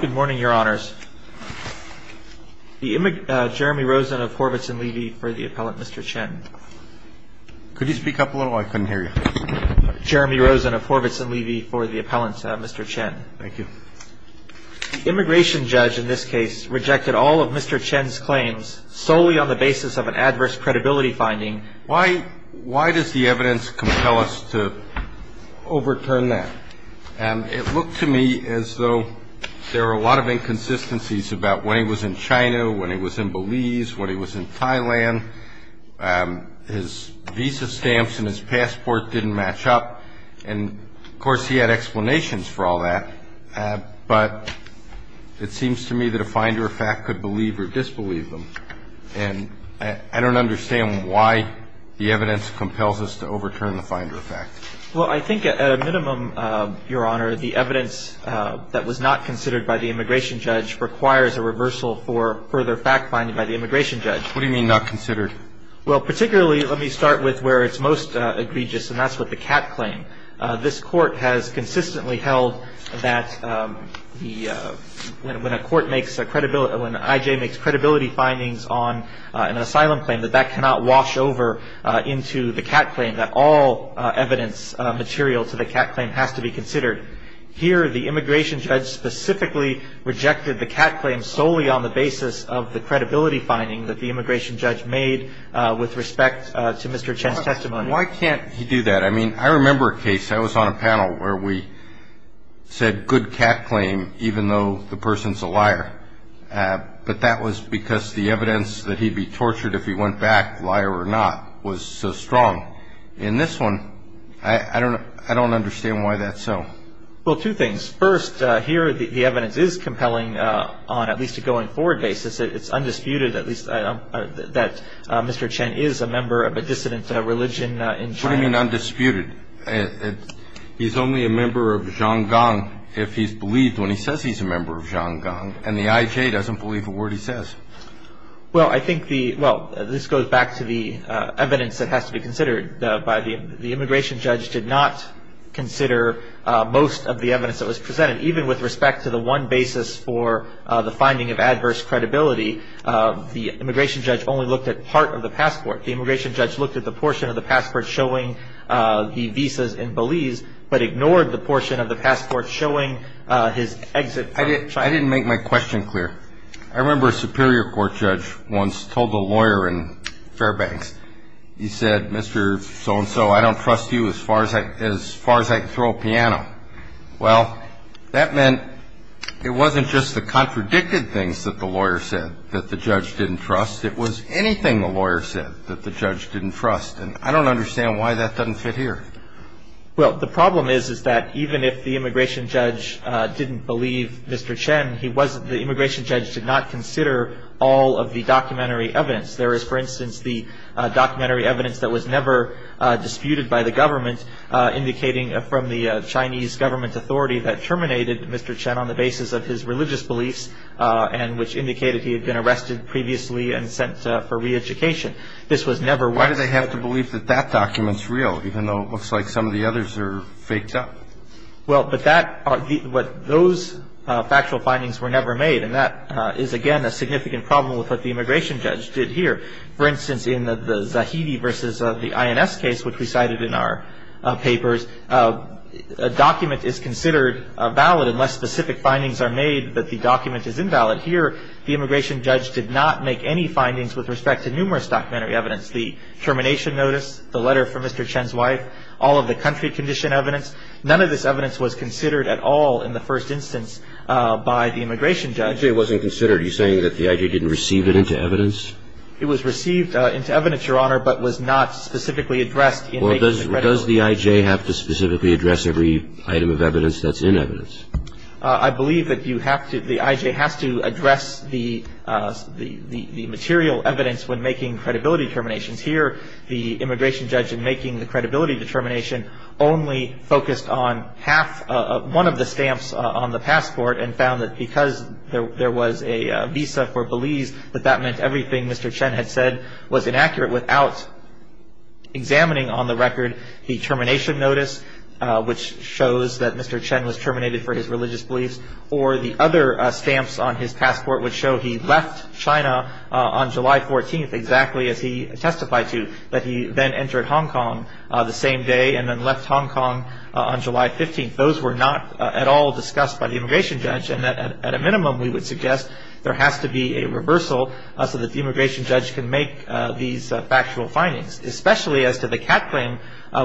Good morning, Your Honors. Jeremy Rosen of Horvitz and Levy for the appellant, Mr. Chen. Could you speak up a little? I couldn't hear you. Jeremy Rosen of Horvitz and Levy for the appellant, Mr. Chen. Thank you. The immigration judge in this case rejected all of Mr. Chen's claims solely on the basis of an adverse credibility finding. Why does the evidence compel us to overturn that? It looked to me as though there were a lot of inconsistencies about when he was in China, when he was in Belize, when he was in Thailand. His visa stamps and his passport didn't match up. And, of course, he had explanations for all that. But it seems to me that a finder of fact could believe or disbelieve them. And I don't understand why the evidence compels us to overturn the finder of fact. Well, I think at a minimum, Your Honor, the evidence that was not considered by the immigration judge requires a reversal for further fact-finding by the immigration judge. What do you mean not considered? Well, particularly, let me start with where it's most egregious, and that's with the Catt claim. This Court has consistently held that when a court makes a credibility – when an I.J. makes credibility findings on an asylum claim, that that cannot wash over into the Catt claim, that all evidence material to the Catt claim has to be considered. Here, the immigration judge specifically rejected the Catt claim solely on the basis of the credibility finding that the immigration judge made with respect to Mr. Chen's testimony. Why can't he do that? I mean, I remember a case. I was on a panel where we said, good Catt claim, even though the person's a liar. But that was because the evidence that he'd be tortured if he went back, liar or not, was so strong. In this one, I don't understand why that's so. Well, two things. First, here, the evidence is compelling on at least a going-forward basis. It's undisputed, at least, that Mr. Chen is a member of a dissident religion in China. What do you mean, undisputed? He's only a member of Zhang Gang if he's believed when he says he's a member of Zhang Gang, and the IJ doesn't believe a word he says. Well, I think the – well, this goes back to the evidence that has to be considered. The immigration judge did not consider most of the evidence that was presented, even with respect to the one basis for the finding of adverse credibility. The immigration judge only looked at part of the passport. The immigration judge looked at the portion of the passport showing the visas in Belize but ignored the portion of the passport showing his exit from China. I didn't make my question clear. I remember a Superior Court judge once told a lawyer in Fairbanks, he said, Mr. So-and-so, I don't trust you as far as I can throw a piano. Well, that meant it wasn't just the contradicted things that the lawyer said that the judge didn't trust. It was anything the lawyer said that the judge didn't trust. And I don't understand why that doesn't fit here. Well, the problem is, is that even if the immigration judge didn't believe Mr. Chen, he wasn't – the immigration judge did not consider all of the documentary evidence. There is, for instance, the documentary evidence that was never disputed by the government, indicating from the Chinese government authority that terminated Mr. Chen on the basis of his religious beliefs and which indicated he had been arrested previously and sent for re-education. This was never – Why do they have to believe that that document's real, even though it looks like some of the others are faked up? Well, but that – those factual findings were never made, and that is, again, a significant problem with what the immigration judge did here. For instance, in the Zahidi versus the INS case, which we cited in our papers, a document is considered valid unless specific findings are made that the document is invalid. Here, the immigration judge did not make any findings with respect to numerous documentary evidence, the termination notice, the letter from Mr. Chen's wife, all of the country condition evidence. None of this evidence was considered at all in the first instance by the immigration judge. You say it wasn't considered. Are you saying that the I.J. didn't receive it into evidence? It was received into evidence, Your Honor, but was not specifically addressed in making the credible – Does the I.J. have to specifically address every item of evidence that's in evidence? I believe that you have to – the I.J. has to address the material evidence when making credibility terminations. Here, the immigration judge, in making the credibility determination, only focused on half – one of the stamps on the passport, and found that because there was a visa for Belize, that that meant everything Mr. Chen had said was inaccurate without examining on the record the termination notice, which shows that Mr. Chen was terminated for his religious beliefs. Or the other stamps on his passport would show he left China on July 14th, exactly as he testified to, that he then entered Hong Kong the same day and then left Hong Kong on July 15th. Those were not at all discussed by the immigration judge, and at a minimum, we would suggest there has to be a reversal so that the immigration judge can make these factual findings, especially as to the cat claim,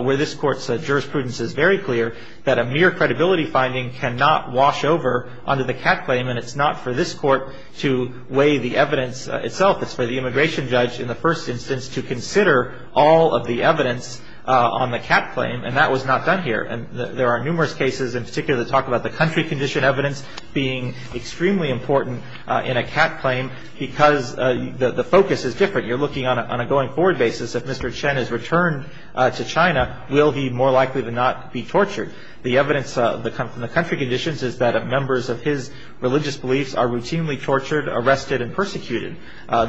where this Court's jurisprudence is very clear that a mere credibility finding cannot wash over onto the cat claim, and it's not for this Court to weigh the evidence itself. It's for the immigration judge, in the first instance, to consider all of the evidence on the cat claim, and that was not done here. There are numerous cases in particular that talk about the country condition evidence being extremely important in a cat claim because the focus is different. You're looking on a going-forward basis. If Mr. Chen is returned to China, will he more likely to not be tortured? The evidence from the country conditions is that members of his religious beliefs are routinely tortured, arrested, and persecuted.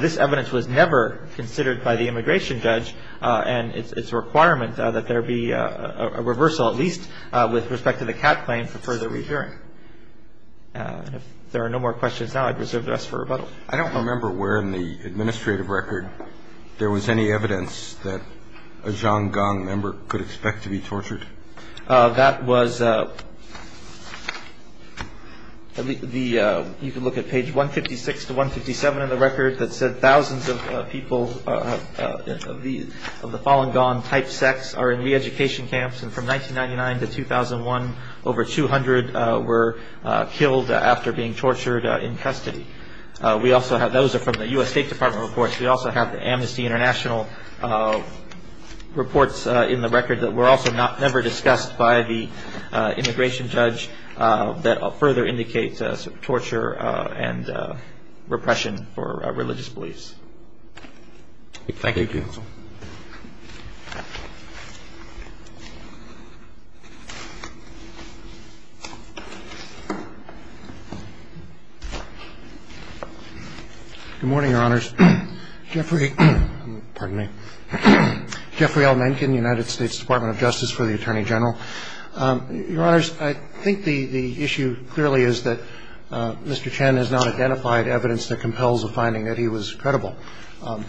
This evidence was never considered by the immigration judge, and it's a requirement that there be a reversal, at least with respect to the cat claim, for further re-hearing. And if there are no more questions now, I'd reserve the rest for rebuttal. I don't remember where in the administrative record there was any evidence that a Zhang Gang member could expect to be tortured. That was the you can look at page 156 to 157 of the record that said thousands of people, of the fallen-gone type sects, are in re-education camps, and from 1999 to 2001, over 200 were killed after being tortured in custody. Those are from the U.S. State Department reports. We also have the Amnesty International reports in the record that were also never discussed by the immigration judge that further indicates torture and repression for religious beliefs. Thank you. Thank you. Good morning, Your Honors. Jeffrey L. Mencken, United States Department of Justice for the Attorney General. Your Honors, I think the issue clearly is that Mr. Chen has not identified evidence that compels a finding that he was credible.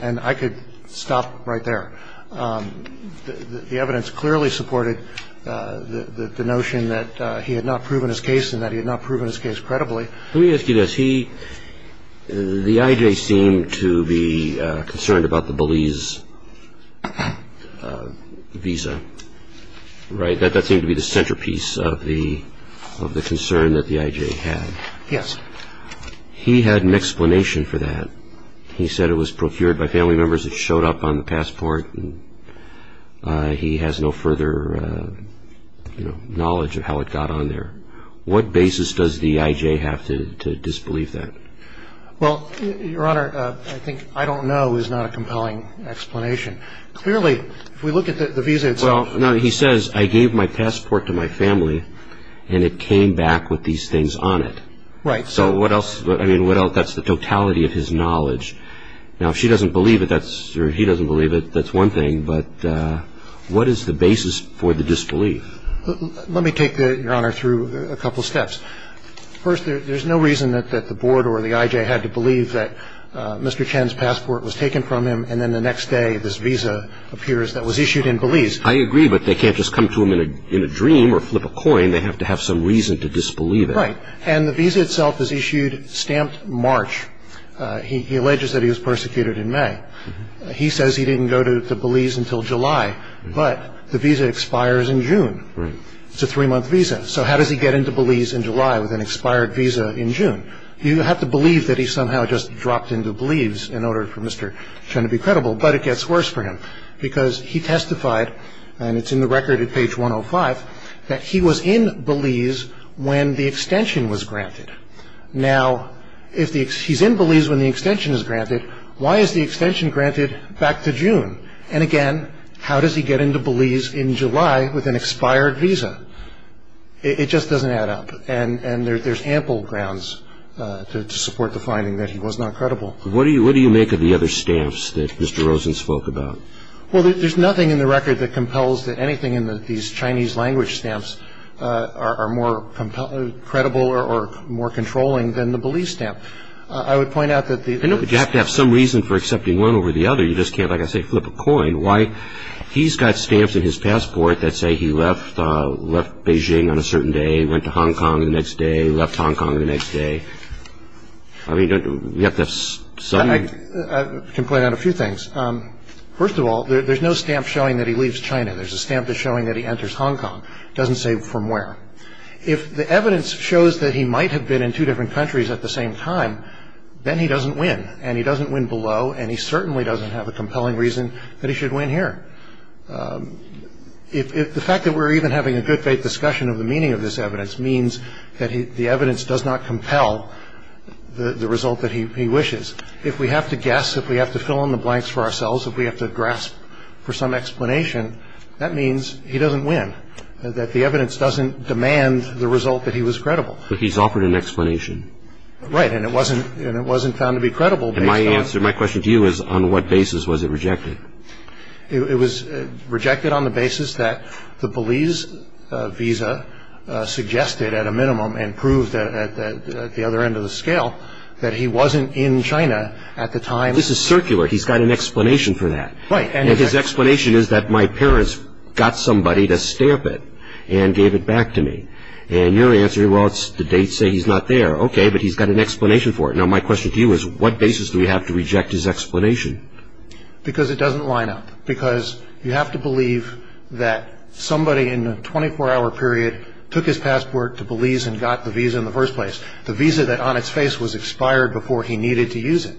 And I could stop right there. The evidence clearly supported the notion that he had not proven his case and that he had not proven his case credibly. Let me ask you this. He, the IJ, seemed to be concerned about the Belize visa, right? That seemed to be the centerpiece of the concern that the IJ had. Yes. He had an explanation for that. He said it was procured by family members. It showed up on the passport. He has no further knowledge of how it got on there. What basis does the IJ have to disbelieve that? Well, Your Honor, I think I don't know is not a compelling explanation. Clearly, if we look at the visa itself. Now, he says, I gave my passport to my family, and it came back with these things on it. Right. So what else? I mean, what else? That's the totality of his knowledge. Now, if she doesn't believe it, or he doesn't believe it, that's one thing. But what is the basis for the disbelief? Let me take, Your Honor, through a couple steps. First, there's no reason that the board or the IJ had to believe that Mr. Chen's passport was taken from him, and then the next day this visa appears that was issued in Belize. I agree, but they can't just come to him in a dream or flip a coin. They have to have some reason to disbelieve it. Right. And the visa itself is issued stamped March. He alleges that he was persecuted in May. He says he didn't go to Belize until July, but the visa expires in June. Right. It's a three-month visa. So how does he get into Belize in July with an expired visa in June? You have to believe that he somehow just dropped into Belize in order for Mr. Chen to be credible, but it gets worse for him because he testified, and it's in the record at page 105, that he was in Belize when the extension was granted. Now, if he's in Belize when the extension is granted, why is the extension granted back to June? And, again, how does he get into Belize in July with an expired visa? It just doesn't add up. And there's ample grounds to support the finding that he was not credible. What do you make of the other stamps that Mr. Rosen spoke about? Well, there's nothing in the record that compels that anything in these Chinese language stamps are more credible or more controlling than the Belize stamp. I would point out that the- You have to have some reason for accepting one over the other. You just can't, like I say, flip a coin. He's got stamps in his passport that say he left Beijing on a certain day, went to Hong Kong the next day, left Hong Kong the next day. I mean, you have to- I can point out a few things. First of all, there's no stamp showing that he leaves China. There's a stamp that's showing that he enters Hong Kong. It doesn't say from where. If the evidence shows that he might have been in two different countries at the same time, then he doesn't win, and he doesn't win below, and he certainly doesn't have a compelling reason that he should win here. The fact that we're even having a good faith discussion of the meaning of this evidence means that the evidence does not compel the result that he wishes. If we have to guess, if we have to fill in the blanks for ourselves, if we have to grasp for some explanation, that means he doesn't win, that the evidence doesn't demand the result that he was credible. But he's offered an explanation. And my answer, my question to you is, on what basis was it rejected? It was rejected on the basis that the Belize visa suggested at a minimum and proved at the other end of the scale that he wasn't in China at the time. This is circular. He's got an explanation for that. Right. And his explanation is that my parents got somebody to stamp it and gave it back to me. And your answer, well, the dates say he's not there. Okay, but he's got an explanation for it. Now, my question to you is, what basis do we have to reject his explanation? Because it doesn't line up. Because you have to believe that somebody in a 24-hour period took his passport to Belize and got the visa in the first place, the visa that on its face was expired before he needed to use it.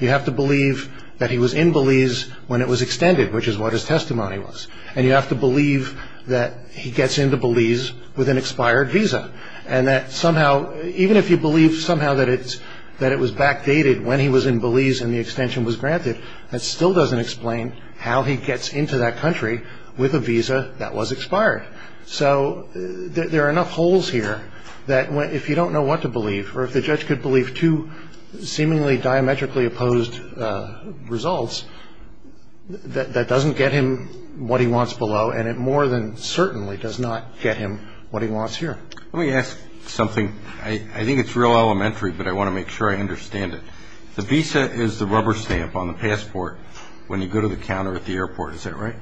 You have to believe that he was in Belize when it was extended, which is what his testimony was. And you have to believe that he gets into Belize with an expired visa. And that somehow, even if you believe somehow that it was backdated when he was in Belize and the extension was granted, that still doesn't explain how he gets into that country with a visa that was expired. So there are enough holes here that if you don't know what to believe, or if the judge could believe two seemingly diametrically opposed results, that doesn't get him what he wants below. And it more than certainly does not get him what he wants here. Let me ask something. I think it's real elementary, but I want to make sure I understand it. The visa is the rubber stamp on the passport when you go to the counter at the airport. Is that right?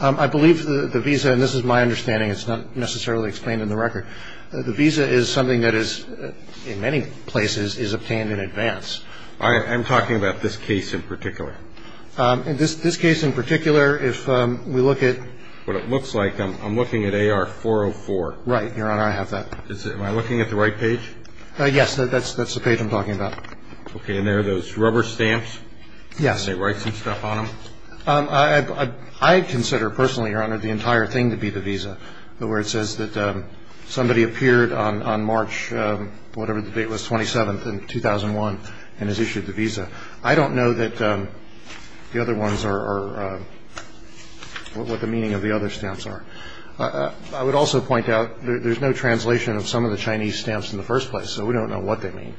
I believe the visa, and this is my understanding, it's not necessarily explained in the record, the visa is something that is, in many places, is obtained in advance. I'm talking about this case in particular. In this case in particular, if we look at what it looks like, I'm looking at AR-404. Right. Your Honor, I have that. Am I looking at the right page? Yes. That's the page I'm talking about. Okay. And there are those rubber stamps? Yes. They write some stuff on them? I consider, personally, Your Honor, the entire thing to be the visa, I don't know what the meaning of the other stamps are. I would also point out there's no translation of some of the Chinese stamps in the first place, so we don't know what they mean.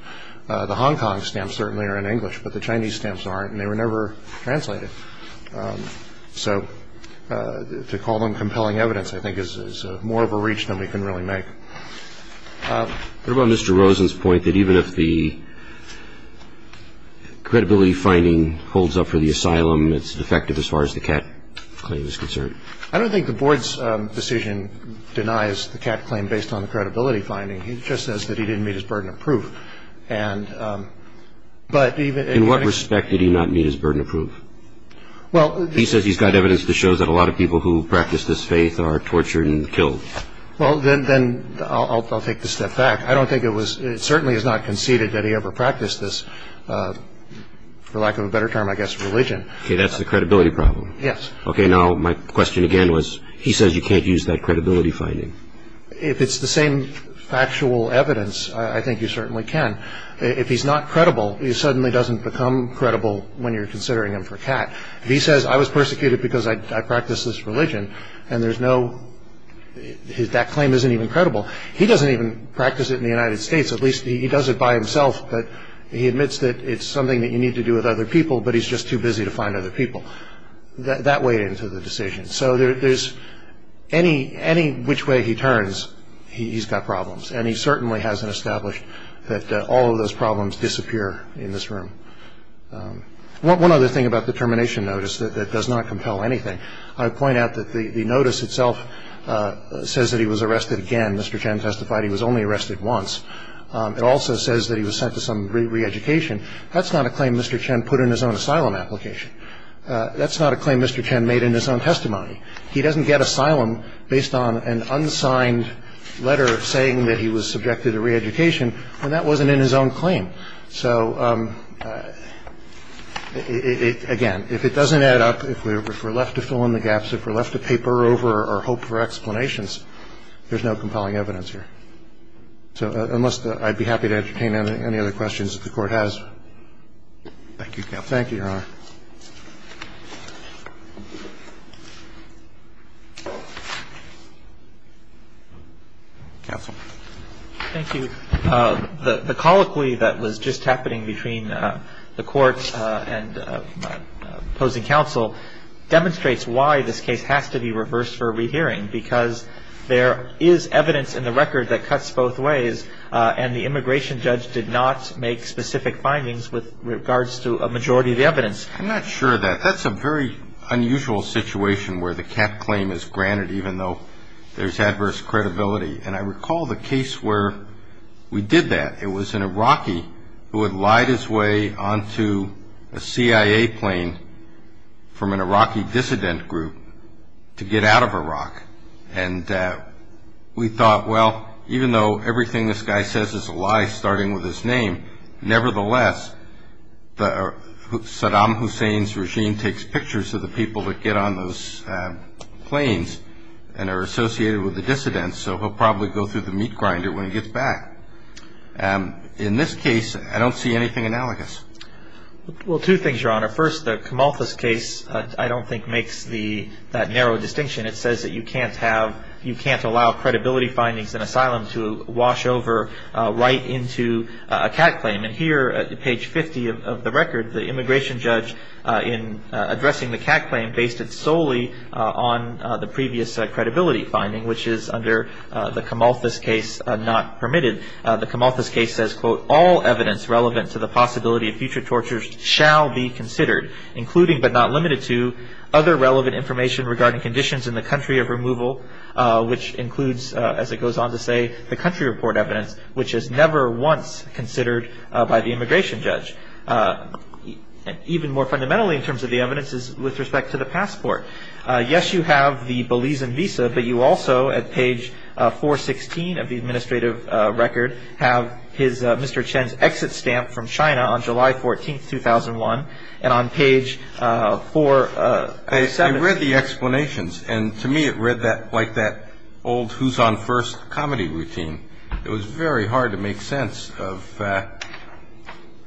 The Hong Kong stamps certainly are in English, but the Chinese stamps aren't, and they were never translated. So to call them compelling evidence, I think, is more of a reach than we can really make. What about Mr. Rosen's point that even if the credibility finding holds up for the asylum, it's defective as far as the CAT claim is concerned? I don't think the Board's decision denies the CAT claim based on the credibility finding. It just says that he didn't meet his burden of proof. In what respect did he not meet his burden of proof? He says he's got evidence that shows that a lot of people who practice this faith are tortured and killed. Well, then I'll take the step back. I don't think it was – it certainly is not conceded that he ever practiced this, for lack of a better term, I guess, religion. Okay, that's the credibility problem. Yes. Okay, now my question again was he says you can't use that credibility finding. If it's the same factual evidence, I think you certainly can. If he's not credible, he suddenly doesn't become credible when you're considering him for CAT. If he says I was persecuted because I practiced this religion and there's no – that claim isn't even credible, he doesn't even practice it in the United States. At least he does it by himself, but he admits that it's something that you need to do with other people, but he's just too busy to find other people. That weighed into the decision. So there's – any which way he turns, he's got problems, and he certainly hasn't established that all of those problems disappear in this room. One other thing about the termination notice that does not compel anything. I would point out that the notice itself says that he was arrested again. Mr. Chen testified he was only arrested once. It also says that he was sent to some re-education. That's not a claim Mr. Chen put in his own asylum application. That's not a claim Mr. Chen made in his own testimony. He doesn't get asylum based on an unsigned letter saying that he was subjected to re-education, and that wasn't in his own claim. So, again, if it doesn't add up, if we're left to fill in the gaps, if we're left to paper over or hope for explanations, there's no compelling evidence here. So unless the – I'd be happy to entertain any other questions if the Court has. Thank you, Your Honor. Counsel. Thank you. The colloquy that was just happening between the Court and opposing counsel demonstrates why this case has to be reversed for a rehearing, because there is evidence in the record that cuts both ways, and the immigration judge did not make specific findings with regards to a majority of the evidence. I'm not sure of that. That's a very unusual situation where the cap claim is granted even though there's adverse credibility. And I recall the case where we did that. It was an Iraqi who had lied his way onto a CIA plane from an Iraqi dissident group to get out of Iraq. And we thought, well, even though everything this guy says is a lie starting with his name, nevertheless, Saddam Hussein's regime takes pictures of the people that get on those planes and are associated with the dissidents, so he'll probably go through the meat grinder when he gets back. In this case, I don't see anything analogous. Well, two things, Your Honor. First, the Kamalthus case I don't think makes that narrow distinction. It says that you can't have – you can't allow credibility findings in asylum to wash over right into a cap claim. And here at page 50 of the record, the immigration judge in addressing the cap claim based it solely on the previous credibility finding, which is under the Kamalthus case not permitted. The Kamalthus case says, quote, all evidence relevant to the possibility of future tortures shall be considered, including but not limited to other relevant information regarding conditions in the country of removal, which includes, as it goes on to say, the country report evidence, which is never once considered by the immigration judge. Even more fundamentally in terms of the evidence is with respect to the passport. Yes, you have the Belizean visa, but you also, at page 416 of the administrative record, have his – Mr. Chen's exit stamp from China on July 14, 2001, and on page 470. I read the explanations, and to me it read like that old who's on first comedy routine. It was very hard to make sense of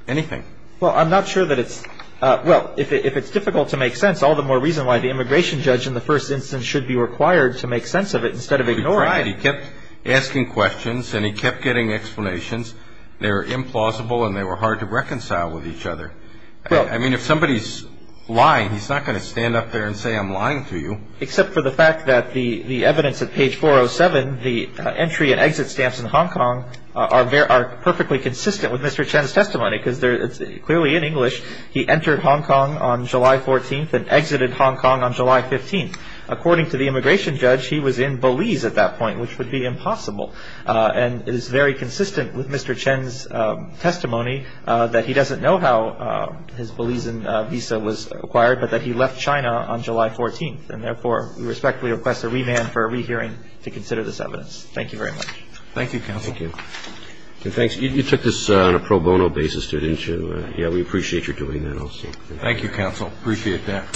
anything. Well, I'm not sure that it's – well, if it's difficult to make sense, all the more reason why the immigration judge in the first instance should be required to make sense of it instead of ignoring it. He tried. He kept asking questions, and he kept getting explanations. They were implausible, and they were hard to reconcile with each other. I mean, if somebody's lying, he's not going to stand up there and say, I'm lying to you. Except for the fact that the evidence at page 407, the entry and exit stamps in Hong Kong, are perfectly consistent with Mr. Chen's testimony because they're clearly in English. He entered Hong Kong on July 14 and exited Hong Kong on July 15. According to the immigration judge, he was in Belize at that point, which would be impossible. And it is very consistent with Mr. Chen's testimony that he doesn't know how his Belizean visa was acquired, but that he left China on July 14. And therefore, we respectfully request a remand for a rehearing to consider this evidence. Thank you very much. Thank you, counsel. Thank you. And thanks – you took this on a pro bono basis to – yeah, we appreciate your doing that also. Thank you, counsel. Appreciate that.